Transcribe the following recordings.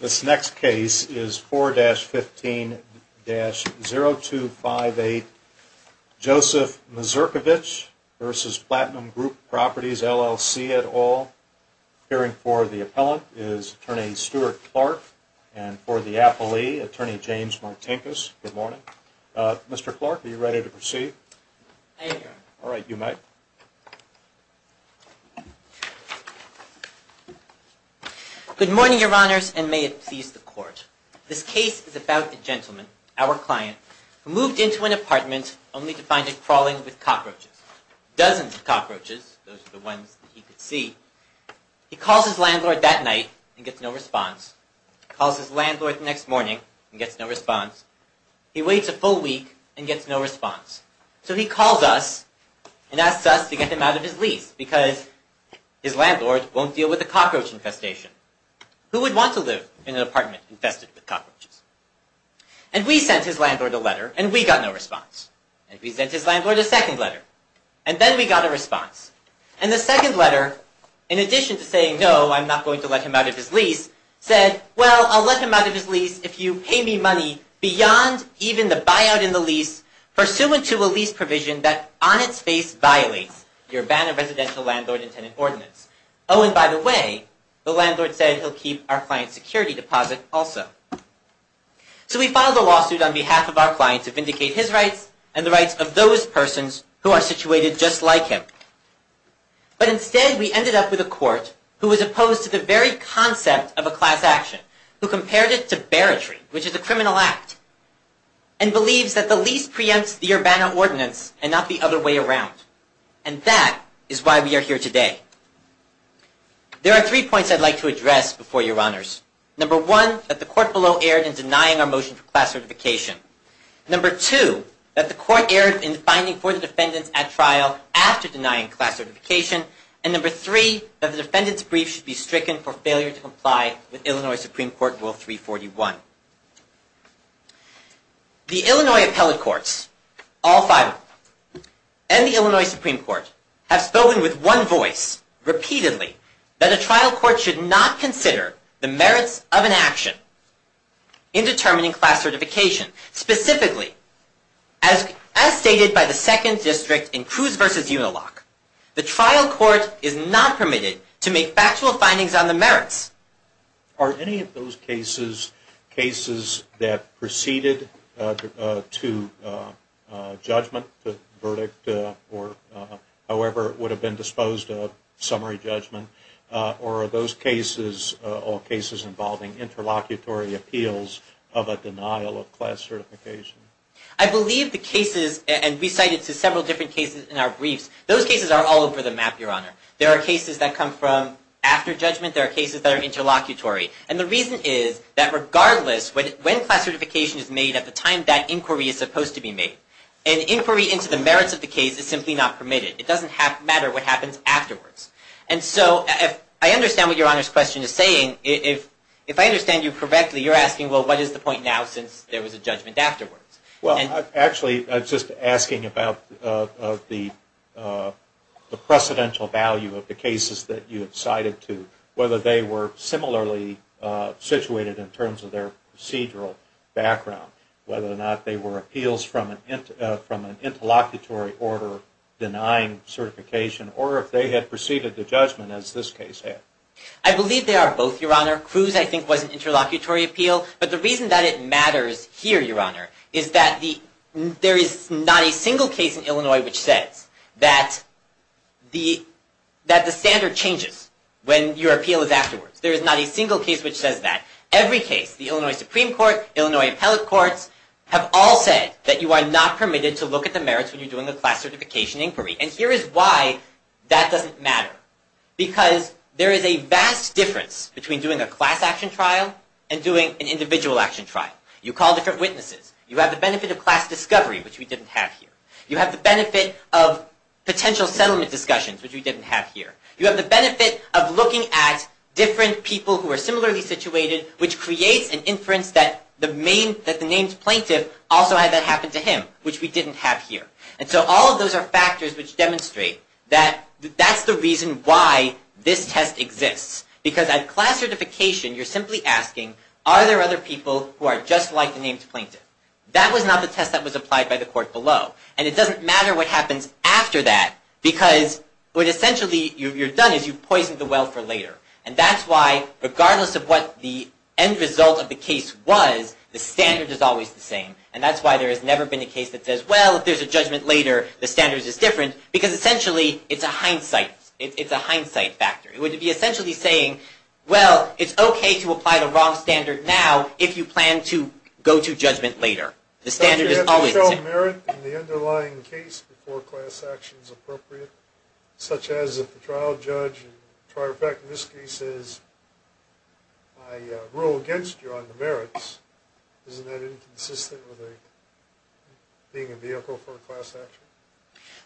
This next case is 4-15-0258 Joseph Mazurkiewicz v. Platinum Group Properties, LLC et al. Appearing for the appellant is Attorney Stuart Clark and for the appellee, Attorney James Martinkus. Good morning. Mr. Clark, are you ready to proceed? I am. All right, you may. Good morning, Your Honors, and may it please the Court. This case is about a gentleman, our client, who moved into an apartment only to find it crawling with cockroaches. Dozens of cockroaches, those are the ones that he could see. He calls his landlord that night and gets no response. He calls his landlord the next morning and gets no response. He waits a full week and gets no response. So he calls us and asks us to get him out of his lease because his landlord won't deal with a cockroach infestation. Who would want to live in an apartment infested with cockroaches? And we sent his landlord a letter and we got no response. And we sent his landlord a second letter. And then we got a response. And the second letter, in addition to saying, no, I'm not going to let him out of his lease, said, well, I'll let him out of his lease if you pay me money beyond even the buyout in the lease, pursuant to a lease provision that on its face violates your ban of residential landlord and tenant ordinance. Oh, and by the way, the landlord said he'll keep our client's security deposit also. So we filed a lawsuit on behalf of our client to vindicate his rights and the rights of those persons who are situated just like him. But instead, we ended up with a court who was opposed to the very concept of a class action, who compared it to bearitry, which is a criminal act, and believes that the lease preempts the urbana ordinance and not the other way around. And that is why we are here today. There are three points I'd like to address before your honors. Number one, that the court below erred in denying our motion for class certification. Number two, that the court erred in finding for the defendants at trial after denying class certification. And number three, that the defendant's brief should be stricken for failure to comply with Illinois Supreme Court Rule 341. The Illinois appellate courts, all five of them, and the Illinois Supreme Court, have spoken with one voice repeatedly that a trial court should not consider the merits of an action in determining class certification. Specifically, as stated by the Second District in Cruz v. Unilock, the trial court is not permitted to make factual findings on the merits. Are any of those cases, cases that preceded to judgment, the verdict or however it would have been disposed of, summary judgment, or are those cases involving interlocutory appeals of a denial of class certification? I believe the cases, and we cited several different cases in our briefs, those cases are all over the map, your honor. There are cases that come from after judgment. There are cases that are interlocutory. And the reason is that regardless when class certification is made, at the time that inquiry is supposed to be made, an inquiry into the merits of the case is simply not permitted. It doesn't matter what happens afterwards. And so, I understand what your honor's question is saying. If I understand you correctly, you're asking, well, what is the point now since there was a judgment afterwards? Well, actually, I'm just asking about the precedential value of the cases that you have cited to, whether they were similarly situated in terms of their procedural background, whether or not they were appeals from an interlocutory order denying certification, or if they had preceded the judgment as this case had. I believe they are both, your honor. Cruz, I think, was an interlocutory appeal. But the reason that it matters here, your honor, is that there is not a single case in Illinois which says that the standard changes when your appeal is afterwards. There is not a single case which says that. Every case, the Illinois Supreme Court, Illinois appellate courts, have all said that you are not permitted to look at the merits when you're doing a class certification inquiry. And here is why that doesn't matter. Because there is a vast difference between doing a class action trial and doing an individual action trial. You call different witnesses. You have the benefit of class discovery, which we didn't have here. You have the benefit of potential settlement discussions, which we didn't have here. You have the benefit of looking at different people who are similarly situated, which creates an inference that the named plaintiff also had that happen to him, which we didn't have here. And so all of those are factors which demonstrate that that's the reason why this test exists. Because at class certification, you're simply asking, are there other people who are just like the named plaintiff? That was not the test that was applied by the court below. And it doesn't matter what happens after that, because what essentially you've done is you've poisoned the well for later. And that's why, regardless of what the end result of the case was, the standard is always the same. And that's why there has never been a case that says, well, if there's a judgment later, the standard is different. Because essentially, it's a hindsight. It's a hindsight factor. It would be essentially saying, well, it's okay to apply the wrong standard now if you plan to go to judgment later. The standard is always the same. If there is merit in the underlying case before class action is appropriate, such as if the trial judge in this case says, I rule against you on the merits, isn't that inconsistent with being a vehicle for a class action?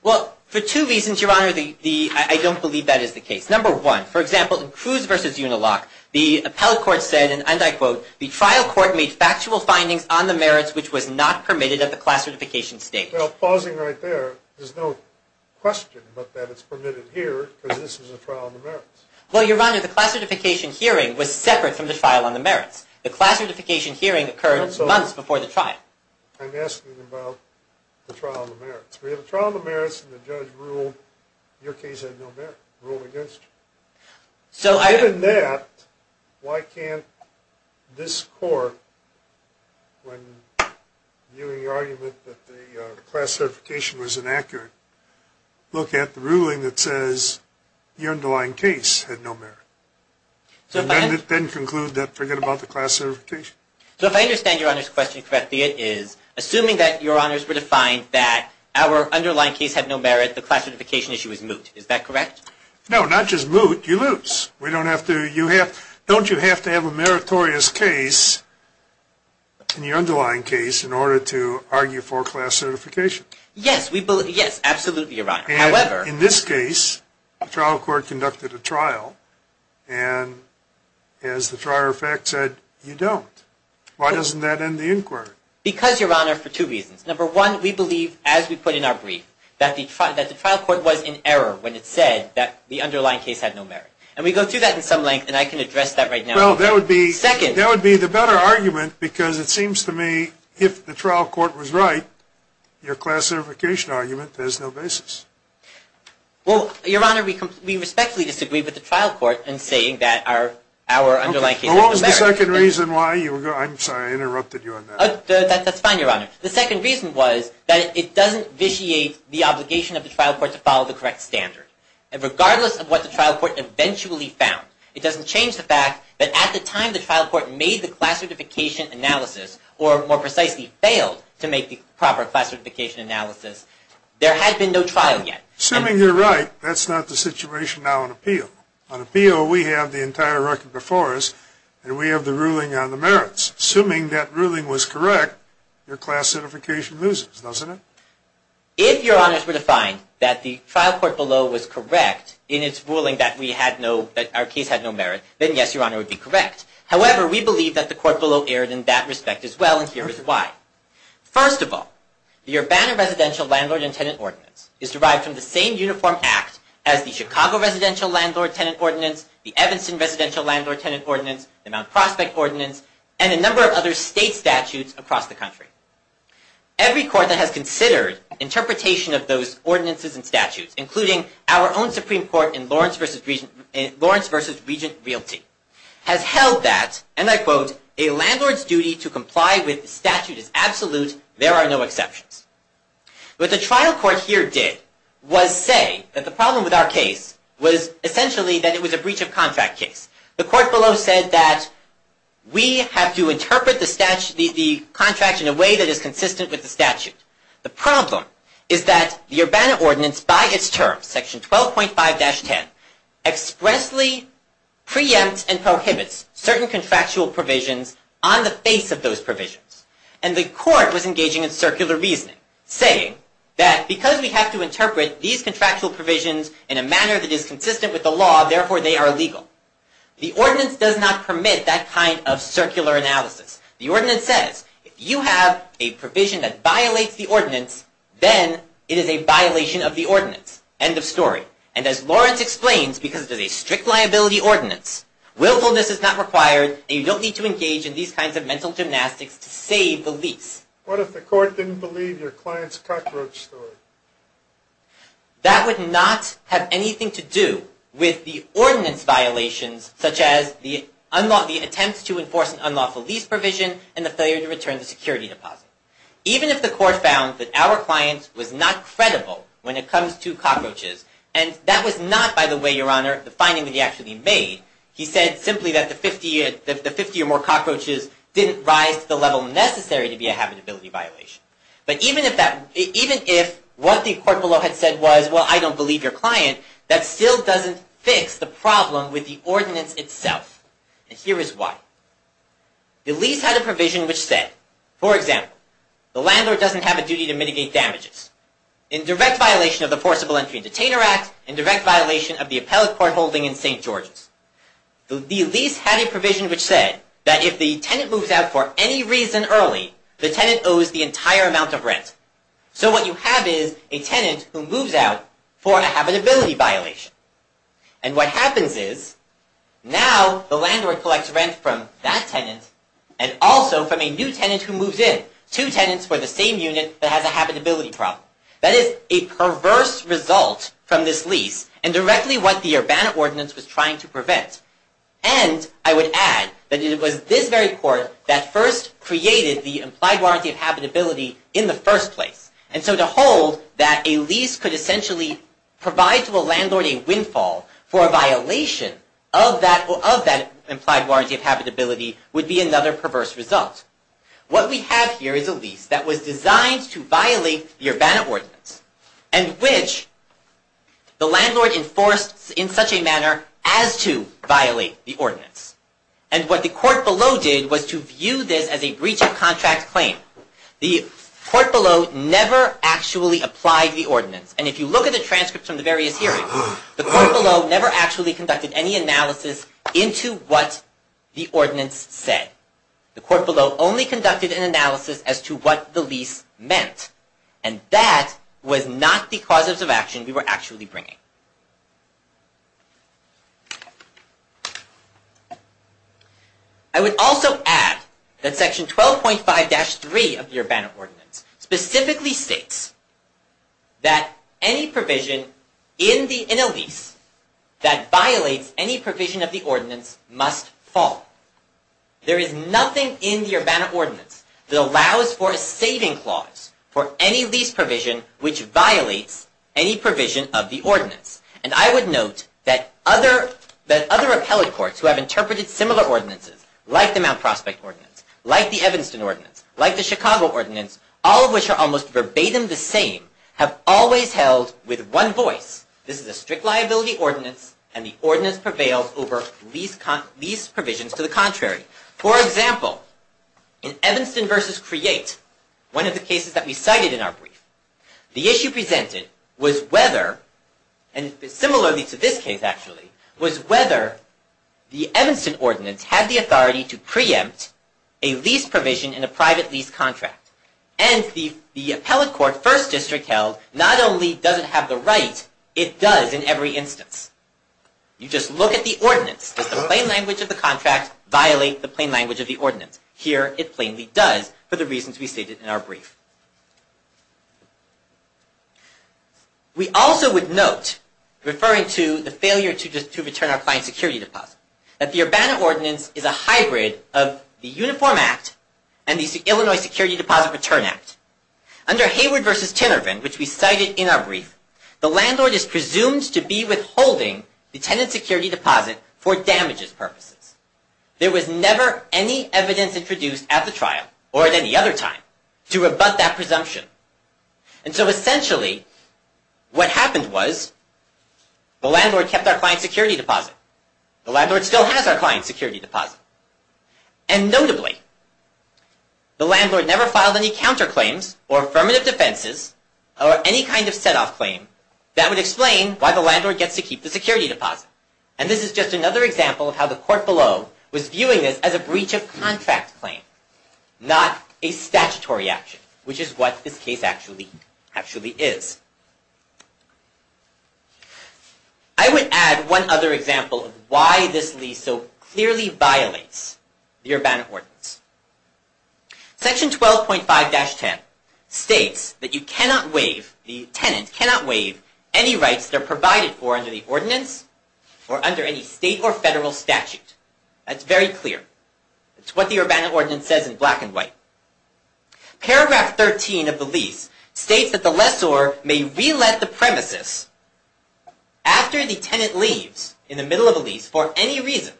Well, for two reasons, Your Honor, I don't believe that is the case. Number one, for example, in Cruz v. Unilock, the appellate court said, and I quote, the trial court made factual findings on the merits which was not permitted at the class certification stage. Well, pausing right there, there's no question but that it's permitted here because this is a trial on the merits. Well, Your Honor, the class certification hearing was separate from the trial on the merits. The class certification hearing occurred months before the trial. I'm asking about the trial on the merits. We have a trial on the merits, and the judge ruled your case had no merit, ruled against you. Given that, why can't this court, when viewing the argument that the class certification was inaccurate, look at the ruling that says your underlying case had no merit, and then conclude that forget about the class certification? So if I understand Your Honor's question correctly, it is assuming that Your Honors were defined that our underlying case had no merit, the class certification issue is moot, is that correct? No, not just moot, you lose. We don't have to, you have, don't you have to have a meritorious case in your underlying case in order to argue for class certification? Yes, we believe, yes, absolutely, Your Honor. And in this case, the trial court conducted a trial, and as the trial fact said, you don't. Why doesn't that end the inquiry? Because, Your Honor, for two reasons. Number one, we believe, as we put in our brief, that the trial court was in error when it said that the underlying case had no merit. And we go through that in some length, and I can address that right now. Well, that would be the better argument, because it seems to me if the trial court was right, your class certification argument has no basis. Well, Your Honor, we respectfully disagree with the trial court in saying that our underlying case had no merit. Well, what was the second reason why you were, I'm sorry, I interrupted you on that. That's fine, Your Honor. The second reason was that it doesn't vitiate the obligation of the trial court to follow the correct standard. And regardless of what the trial court eventually found, it doesn't change the fact that at the time the trial court made the class certification analysis, or more precisely failed to make the proper class certification analysis, there had been no trial yet. Assuming you're right, that's not the situation now in appeal. On appeal, we have the entire record before us, and we have the ruling on the merits. Assuming that ruling was correct, your class certification loses, doesn't it? If, Your Honors, we're to find that the trial court below was correct in its ruling that we had no, that our case had no merit, then yes, Your Honor, it would be correct. However, we believe that the court below erred in that respect as well, and here is why. First of all, your Banner Residential Landlord and Tenant Ordinance is derived from the same uniform act as the Chicago Residential Landlord-Tenant Ordinance, the Evanston Residential Landlord-Tenant Ordinance, the Mount Prospect Ordinance, and a number of other state statutes across the country. Every court that has considered interpretation of those ordinances and statutes, including our own Supreme Court in Lawrence v. Regent Realty, has held that, and I quote, a landlord's duty to comply with the statute is absolute, there are no exceptions. What the trial court here did was say that the problem with our case was essentially that it was a breach of contract case. The court below said that we have to interpret the contract in a way that is consistent with the statute. The problem is that the Urbana Ordinance, by its terms, section 12.5-10, expressly preempts and prohibits certain contractual provisions on the face of those provisions. And the court was engaging in circular reasoning, saying that because we have to interpret these contractual provisions in a manner that is consistent with the law, therefore they are legal. The ordinance does not permit that kind of circular analysis. The ordinance says, if you have a provision that violates the ordinance, then it is a violation of the ordinance. End of story. And as Lawrence explains, because it is a strict liability ordinance, willfulness is not required, and you don't need to engage in these kinds of mental gymnastics to save the lease. What if the court didn't believe your client's cockroach story? That would not have anything to do with the ordinance violations, such as the attempts to enforce an unlawful lease provision and the failure to return the security deposit. Even if the court found that our client was not credible when it comes to cockroaches, and that was not, by the way, Your Honor, the finding that he actually made. He said simply that the 50 or more cockroaches didn't rise to the level necessary to be a habitability violation. But even if what the court below had said was, well, I don't believe your client, that still doesn't fix the problem with the ordinance itself. And here is why. The lease had a provision which said, for example, the landlord doesn't have a duty to mitigate damages in direct violation of the Forcible Entry and Detainer Act, and direct violation of the appellate court holding in St. George's. The lease had a provision which said that if the tenant moves out for any reason early, the tenant owes the entire amount of rent. So what you have is a tenant who moves out for a habitability violation. And what happens is, now the landlord collects rent from that tenant, and also from a new tenant who moves in. Two tenants for the same unit that has a habitability problem. That is a perverse result from this lease, and directly what the Urbana Ordinance was trying to prevent. And I would add that it was this very court that first created the implied warranty of habitability in the first place. And so to hold that a lease could essentially provide to a landlord a windfall for a violation of that implied warranty of habitability would be another perverse result. What we have here is a lease that was designed to violate the Urbana Ordinance, and which the landlord enforced in such a manner as to violate the ordinance. And what the court below did was to view this as a breach of contract claim. The court below never actually applied the ordinance. And if you look at the transcripts from the various hearings, the court below never actually conducted any analysis into what the ordinance said. The court below only conducted an analysis as to what the lease meant. And that was not the causes of action we were actually bringing. I would also add that Section 12.5-3 of the Urbana Ordinance specifically states that any provision in a lease that violates any provision of the ordinance must fall. There is nothing in the Urbana Ordinance that allows for a saving clause for any lease provision which violates any provision of the ordinance. And I would note that other appellate courts who have interpreted similar ordinances, like the Mount Prospect Ordinance, like the Evanston Ordinance, like the Chicago Ordinance, all of which are almost verbatim the same, have always held with one voice, this is a strict liability ordinance, and the ordinance prevails over lease provisions to the contrary. For example, in Evanston v. Create, one of the cases that we cited in our brief, the issue presented was whether, and similarly to this case actually, was whether the Evanston Ordinance had the authority to preempt a lease provision in a private lease contract. And the appellate court, 1st District held, not only does it have the right, it does in every instance. You just look at the ordinance. Does the plain language of the contract violate the plain language of the ordinance? Here, it plainly does, for the reasons we stated in our brief. We also would note, referring to the failure to return our client's security deposit, that the Urbana Ordinance is a hybrid of the Uniform Act and the Illinois Security Deposit Return Act. Under Hayward v. Tinervant, which we cited in our brief, the landlord is presumed to be withholding the tenant's security deposit for damages purposes. There was never any evidence introduced at the trial, or at any other time, to rebut that presumption. And so essentially, what happened was, the landlord kept our client's security deposit. The landlord still has our client's security deposit. And notably, the landlord never filed any counterclaims, or affirmative defenses, or any kind of set-off claim, that would explain why the landlord gets to keep the security deposit. And this is just another example of how the court below was viewing this as a breach of contract claim, not a statutory action, which is what this case actually is. I would add one other example of why this lease so clearly violates the Urbana Ordinance. Section 12.5-10 states that the tenant cannot waive any rights that are provided for under the ordinance, or under any state or federal statute. That's very clear. That's what the Urbana Ordinance says in black and white. Paragraph 13 of the lease states that the lessor may re-let the premises after the tenant leaves, in the middle of a lease, for any reason.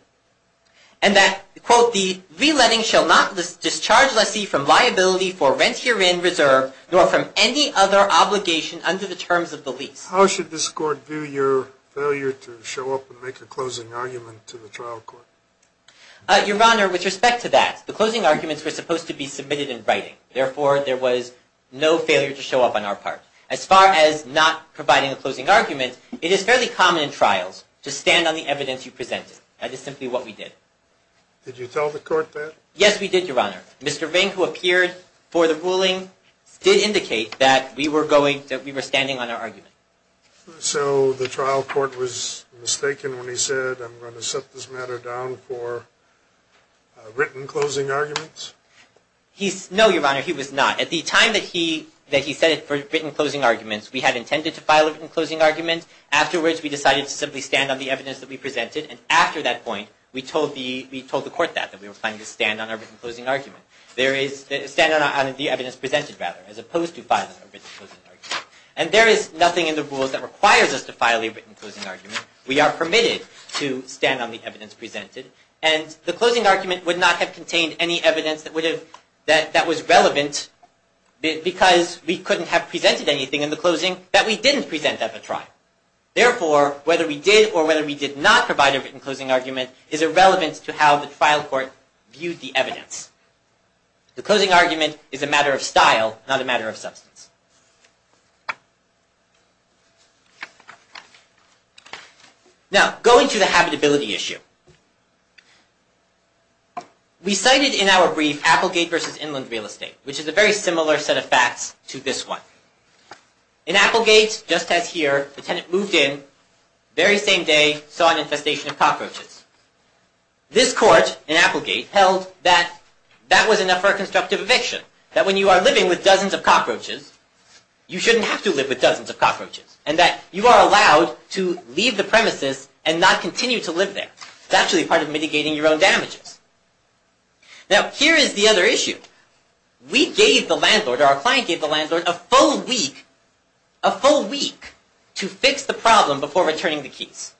And that, quote, the re-letting shall not discharge lessee from liability for rent herein reserved, nor from any other obligation under the terms of the lease. How should this court view your failure to show up and make a closing argument to the trial court? Your Honor, with respect to that, the closing arguments were supposed to be submitted in writing. Therefore, there was no failure to show up on our part. As far as not providing a closing argument, it is fairly common in trials to stand on the evidence you presented. That is simply what we did. Did you tell the court that? Yes, we did, Your Honor. Mr. Ring, who appeared for the ruling, did indicate that we were standing on our argument. So the trial court was mistaken when he said, I'm going to set this matter down for written closing arguments? No, Your Honor, he was not. At the time that he said it for written closing arguments, we had intended to file a written closing argument. Afterwards, we decided to simply stand on the evidence that we presented. And after that point, we told the court that, that we were planning to stand on our written closing argument. Stand on the evidence presented, rather, as opposed to filing a written closing argument. And there is nothing in the rules that requires us to file a written closing argument. We are permitted to stand on the evidence presented. And the closing argument would not have contained any evidence that was relevant, because we couldn't have presented anything in the closing that we didn't present at the trial. Therefore, whether we did or whether we did not provide a written closing argument is irrelevant to how the trial court viewed the evidence. The closing argument is a matter of style, not a matter of substance. Now, going to the habitability issue. We cited in our brief, Applegate v. Inland Real Estate, which is a very similar set of facts to this one. In Applegate, just as here, the tenant moved in, this court, in Applegate, held that that was enough for a constructive eviction. That when you are living with dozens of cockroaches, you shouldn't have to live with dozens of cockroaches. And that you are allowed to leave the premises and not continue to live there. It's actually part of mitigating your own damages. Now, here is the other issue. We gave the landlord, or our client gave the landlord, a full week, a full week, to fix the problem before returning the keys.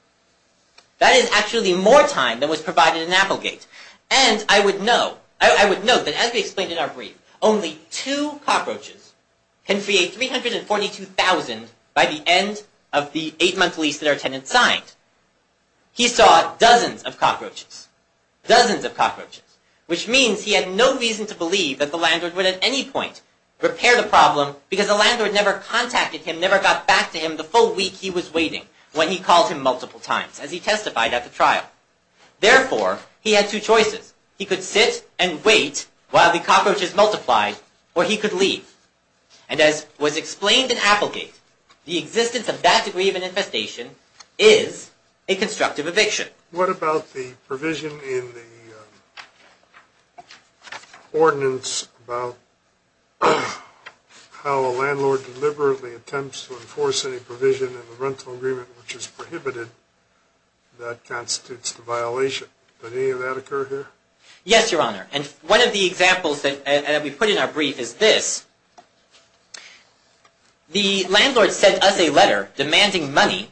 That is actually more time than was provided in Applegate. And I would note that, as we explained in our brief, only two cockroaches can free a $342,000 by the end of the eight-month lease that our tenant signed. He saw dozens of cockroaches. Dozens of cockroaches. Which means he had no reason to believe that the landlord would at any point repair the problem because the landlord never contacted him, never got back to him the full week he was waiting when he called him multiple times as he testified at the trial. Therefore, he had two choices. He could sit and wait while the cockroaches multiplied, or he could leave. And as was explained in Applegate, the existence of that degree of an infestation is a constructive eviction. What about the provision in the ordinance about how a landlord deliberately attempts to enforce any provision in the rental agreement which is prohibited that constitutes a violation? Did any of that occur here? Yes, Your Honor. And one of the examples that we put in our brief is this. The landlord sent us a letter demanding money,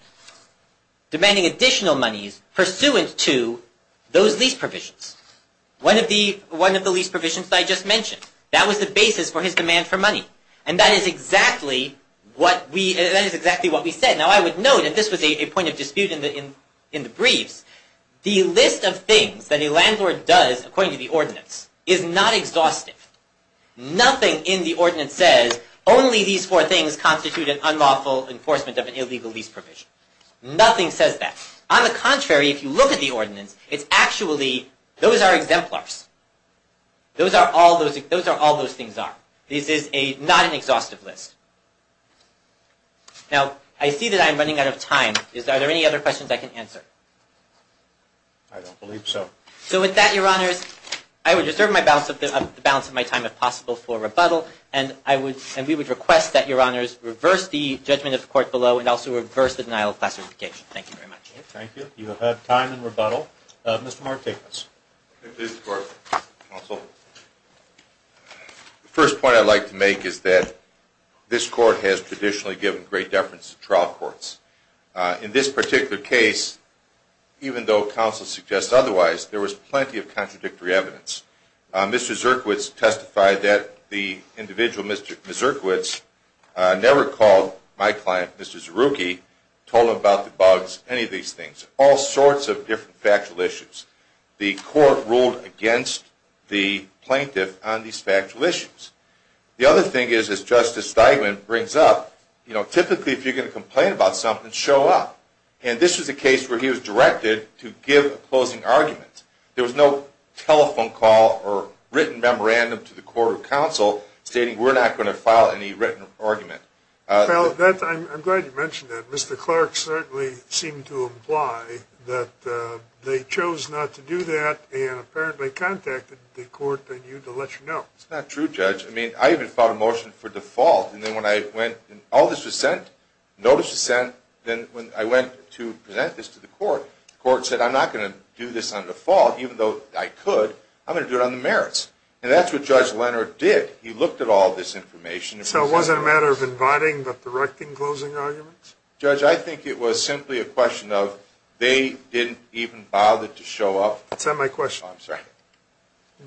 demanding additional monies pursuant to those lease provisions. One of the lease provisions that I just mentioned. That was the basis for his demand for money. And that is exactly what we said. Now, I would note that this was a point of dispute in the briefs. The list of things that a landlord does, according to the ordinance, is not exhaustive. Nothing in the ordinance says, only these four things constitute an unlawful enforcement of an illegal lease provision. Nothing says that. On the contrary, if you look at the ordinance, it's actually, those are exemplars. Those are all those things are. This is not an exhaustive list. Now, I see that I'm running out of time. Are there any other questions I can answer? I don't believe so. So with that, Your Honors, I would reserve the balance of my time if possible for rebuttal. And we would request that Your Honors reverse the judgment of the court below and also reverse the denial of class certification. Thank you very much. Thank you. You have time in rebuttal. Mr. Martinez. Thank you, Mr. Court. Counsel. The first point I'd like to make is that this court has traditionally given great deference to trial courts. In this particular case, even though counsel suggests otherwise, there was plenty of contradictory evidence. Mr. Zierkiewicz testified that the individual, Mr. Zierkiewicz, never called my client, Mr. Zierucki, told him about the bugs, any of these things. All sorts of different factual issues. The court ruled against the plaintiff on these factual issues. The other thing is, as Justice Steigman brings up, typically if you're going to complain about something, show up. And this was a case where he was directed to give a closing argument. There was no telephone call or written memorandum to the court or counsel stating we're not going to file any written argument. I'm glad you mentioned that. Mr. Clark certainly seemed to imply that they chose not to do that and apparently contacted the court and you to let you know. That's not true, Judge. I mean, I even filed a motion for default. And then when all this was sent, notice was sent, then when I went to present this to the court, the court said I'm not going to do this on default, even though I could. I'm going to do it on the merits. And that's what Judge Leonard did. He looked at all this information. So it wasn't a matter of inviting but directing closing arguments? Judge, I think it was simply a question of they didn't even bother to show up. That's not my question. Oh, I'm sorry.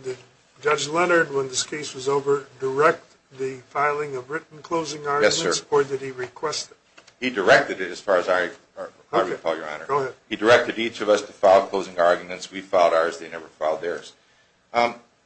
Did Judge Leonard, when this case was over, direct the filing of written closing arguments? Yes, sir. Or did he request it? He directed it as far as I recall, Your Honor. Go ahead. He directed each of us to file closing arguments. We filed ours. They never filed theirs.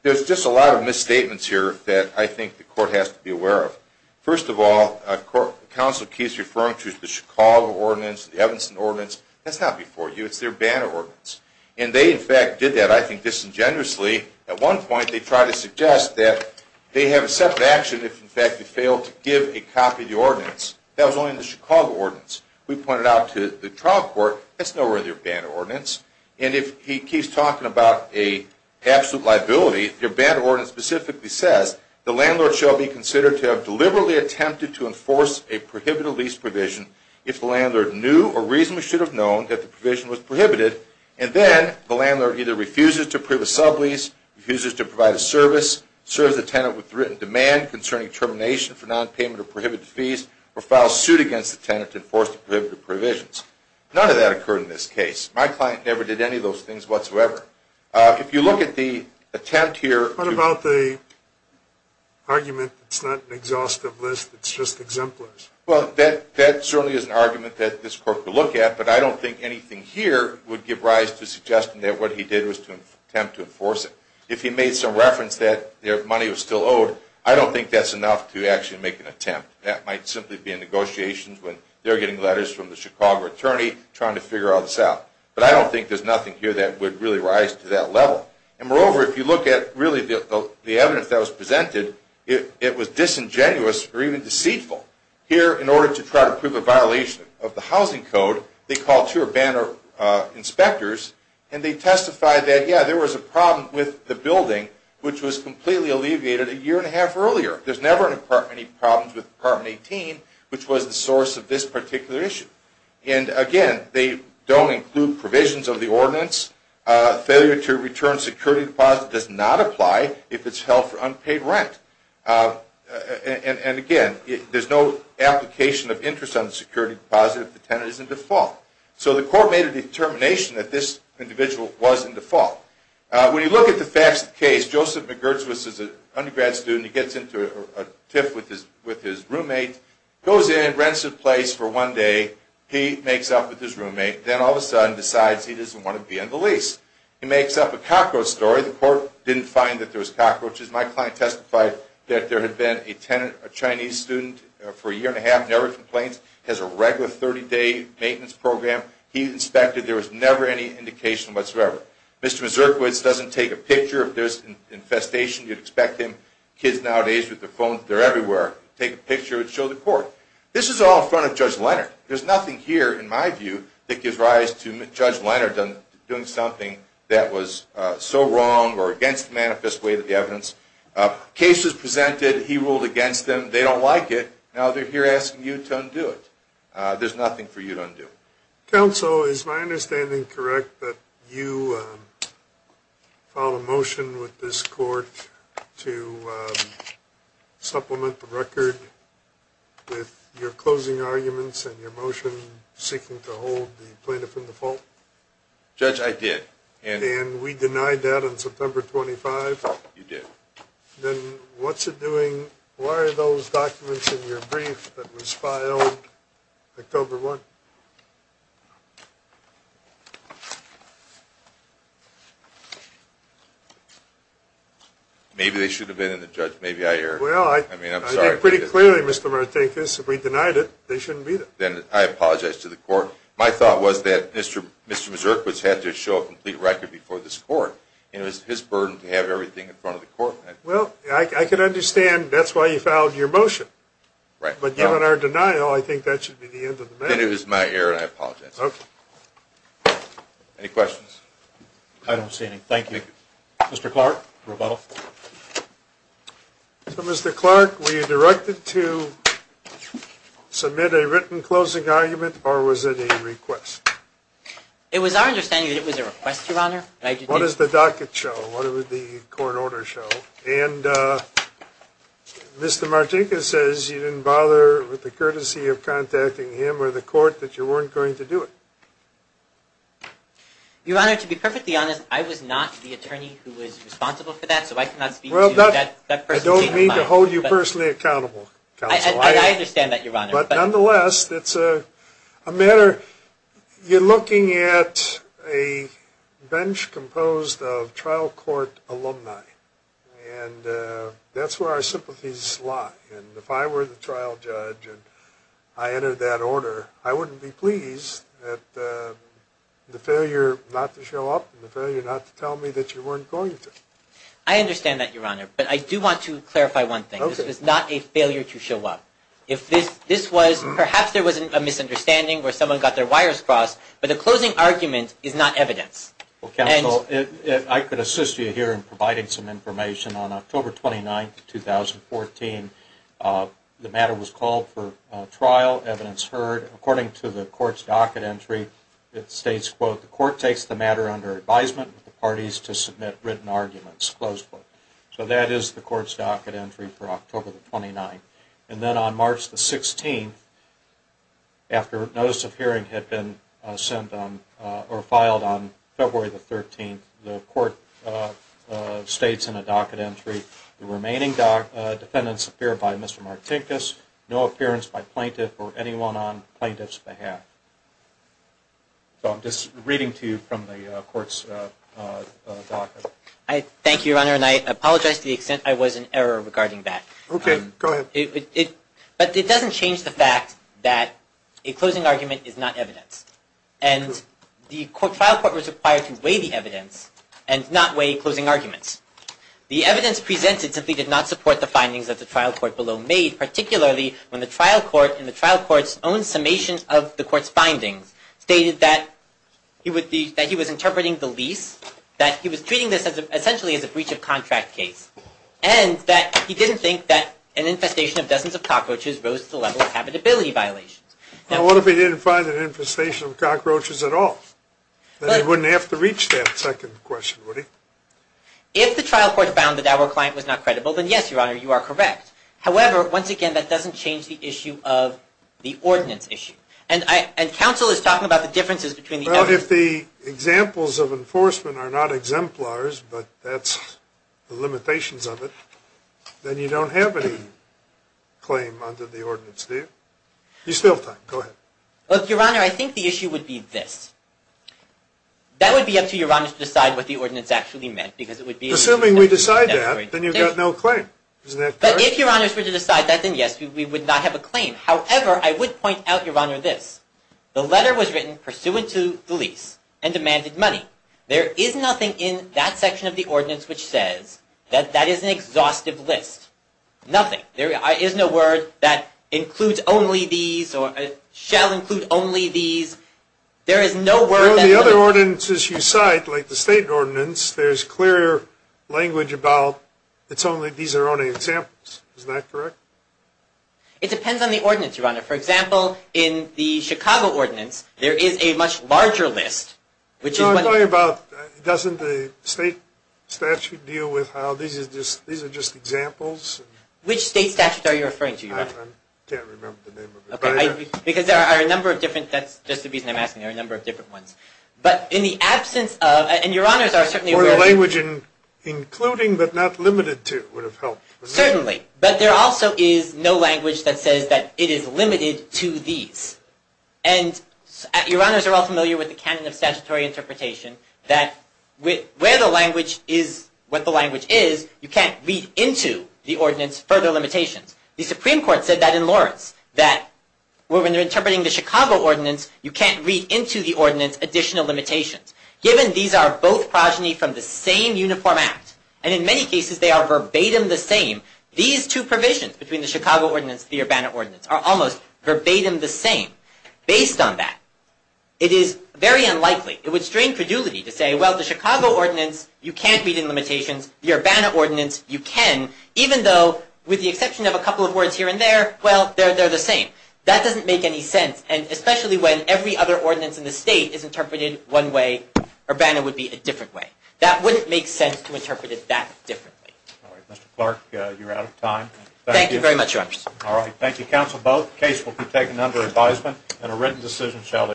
There's just a lot of misstatements here that I think the court has to be aware of. First of all, the counsel keeps referring to the Chicago ordinance, the Evanston ordinance. That's not before you. It's their banner ordinance. And they, in fact, did that, I think, disingenuously. At one point, they tried to suggest that they have a separate action if, in fact, they failed to give a copy of the ordinance. That was only in the Chicago ordinance. We pointed out to the trial court, that's nowhere in their banner ordinance. And if he keeps talking about an absolute liability, their banner ordinance specifically says, the landlord shall be considered to have deliberately attempted to enforce a prohibited lease provision if the landlord knew or reasonably should have known that the provision was prohibited, and then the landlord either refuses to approve a sublease, refuses to provide a service, serves the tenant with written demand concerning termination for nonpayment of prohibited fees, or files suit against the tenant to enforce the prohibited provisions. None of that occurred in this case. My client never did any of those things whatsoever. If you look at the attempt here. What about the argument that it's not an exhaustive list, it's just exemplars? Well, that certainly is an argument that this court could look at, but I don't think anything here would give rise to suggesting that what he did was to attempt to enforce it. If he made some reference that their money was still owed, I don't think that's enough to actually make an attempt. That might simply be in negotiations when they're getting letters from the But I don't think there's nothing here that would really rise to that level. And moreover, if you look at really the evidence that was presented, it was disingenuous or even deceitful. Here, in order to try to prove a violation of the housing code, they called two Urbana inspectors, and they testified that, yeah, there was a problem with the building, which was completely alleviated a year and a half earlier. There's never been any problems with Apartment 18, which was the source of this particular issue. And again, they don't include provisions of the ordinance. Failure to return security deposit does not apply if it's held for unpaid rent. And again, there's no application of interest on the security deposit if the tenant is in default. So the court made a determination that this individual was in default. When you look at the facts of the case, Joseph McGirtz was an undergrad student. He gets into a tiff with his roommate, goes in, rents a place for one day. He makes up with his roommate, then all of a sudden decides he doesn't want to be on the lease. He makes up a cockroach story. The court didn't find that there was cockroaches. My client testified that there had been a Chinese student for a year and a half, never complained, has a regular 30-day maintenance program. He inspected. There was never any indication whatsoever. Mr. McGirtz doesn't take a picture. If there's infestation, you'd expect him. Kids nowadays with their phones, they're everywhere. Take a picture and show the court. This is all in front of Judge Leonard. There's nothing here, in my view, that gives rise to Judge Leonard doing something that was so wrong or against the manifest way of the evidence. Case is presented. He ruled against them. They don't like it. Now they're here asking you to undo it. There's nothing for you to undo. Counsel, is my understanding correct that you filed a motion with this court to supplement the record with your closing arguments and your motion seeking to hold the plaintiff in the fault? Judge, I did. And we denied that on September 25th? You did. Then what's it doing? Why are those documents in your brief that was filed October 1st? Maybe they should have been in the judge. Maybe I erred. Well, I did pretty clearly, Mr. Martekis. If we denied it, they shouldn't be there. Then I apologize to the court. My thought was that Mr. Mazurkowitz had to show a complete record before this court. It was his burden to have everything in front of the court. Well, I can understand that's why you filed your motion. But given our denial, I think that should be the end of the matter. Then it was my error and I apologize. Any questions? I don't see any. Thank you. Mr. Clark, rebuttal. So, Mr. Clark, were you directed to submit a written closing argument or was it a request? It was our understanding that it was a request, Your Honor. What does the docket show? What does the court order show? And Mr. Martekis says you didn't bother with the courtesy of contacting him or the court that you weren't going to do it. Your Honor, to be perfectly honest, I was not the attorney who was responsible for that, so I cannot speak to that person. I don't mean to hold you personally accountable, counsel. I understand that, Your Honor. But nonetheless, it's a matter – you're looking at a bench composed of trial court alumni. And that's where our sympathies lie. And if I were the trial judge and I entered that order, I wouldn't be pleased at the failure not to show up and the failure not to tell me that you weren't going to. I understand that, Your Honor. But I do want to clarify one thing. This was not a failure to show up. If this was – perhaps there was a misunderstanding where someone got their wires crossed, but the closing argument is not evidence. Well, counsel, I could assist you here in providing some information. On October 29, 2014, the matter was called for trial, evidence heard. According to the court's docket entry, it states, quote, the court takes the matter under advisement of the parties to submit written arguments, close quote. So that is the court's docket entry for October 29. And then on March the 16th, after notice of hearing had been sent on – or filed on February the 13th, the court states in the docket entry, the remaining defendants appear by Mr. Martinkus, no appearance by plaintiff or anyone on plaintiff's behalf. So I'm just reading to you from the court's docket. Thank you, Your Honor. And I apologize to the extent I was in error regarding that. Okay, go ahead. But it doesn't change the fact that a closing argument is not evidence. And the trial court was required to weigh the evidence and not weigh closing arguments. The evidence presented simply did not support the findings that the trial court below made, particularly when the trial court in the trial court's own summation of the court's findings stated that he was interpreting the lease, that he was treating this essentially as a breach of contract case, and that he didn't think that an infestation of dozens of cockroaches rose to the level of habitability violations. Now, what if he didn't find an infestation of cockroaches at all? Then he wouldn't have to reach that second question, would he? If the trial court found that our client was not credible, then yes, Your Honor, you are correct. However, once again, that doesn't change the issue of the ordinance issue. But if the examples of enforcement are not exemplars, but that's the limitations of it, then you don't have any claim under the ordinance, do you? You still have time. Go ahead. Look, Your Honor, I think the issue would be this. That would be up to Your Honor to decide what the ordinance actually meant, because it would be... Assuming we decide that, then you've got no claim. But if Your Honor were to decide that, then yes, we would not have a claim. However, I would point out, Your Honor, this. The letter was written pursuant to the lease and demanded money. There is nothing in that section of the ordinance which says that that is an exhaustive list. Nothing. There is no word that includes only these or shall include only these. There is no word that... Well, in the other ordinances you cite, like the state ordinance, there's clear language about these are only examples. Is that correct? It depends on the ordinance, Your Honor. For example, in the Chicago ordinance, there is a much larger list, which is... No, I'm talking about doesn't the state statute deal with how these are just examples? Which state statute are you referring to, Your Honor? I can't remember the name of it. Because there are a number of different... That's just the reason I'm asking. There are a number of different ones. But in the absence of... And Your Honors are certainly... Or the language in including but not limited to would have helped. Certainly. But there also is no language that says that it is limited to these. And Your Honors are all familiar with the canon of statutory interpretation, that where the language is what the language is, you can't read into the ordinance further limitations. The Supreme Court said that in Lawrence, that when they're interpreting the Chicago ordinance, you can't read into the ordinance additional limitations. Given these are both progeny from the same uniform act, and in many cases they are verbatim the same, these two provisions between the Chicago ordinance and the Urbana ordinance are almost verbatim the same. Based on that, it is very unlikely... It would strain credulity to say, well, the Chicago ordinance, you can't read in limitations. The Urbana ordinance, you can. Even though, with the exception of a couple of words here and there, well, they're the same. That doesn't make any sense. And especially when every other ordinance in the state is interpreted one way, Urbana would be a different way. That wouldn't make sense to interpret it that differently. All right. Mr. Clark, you're out of time. Thank you very much, Your Honors. All right. Thank you, counsel. Both cases will be taken under advisement, and a written decision shall...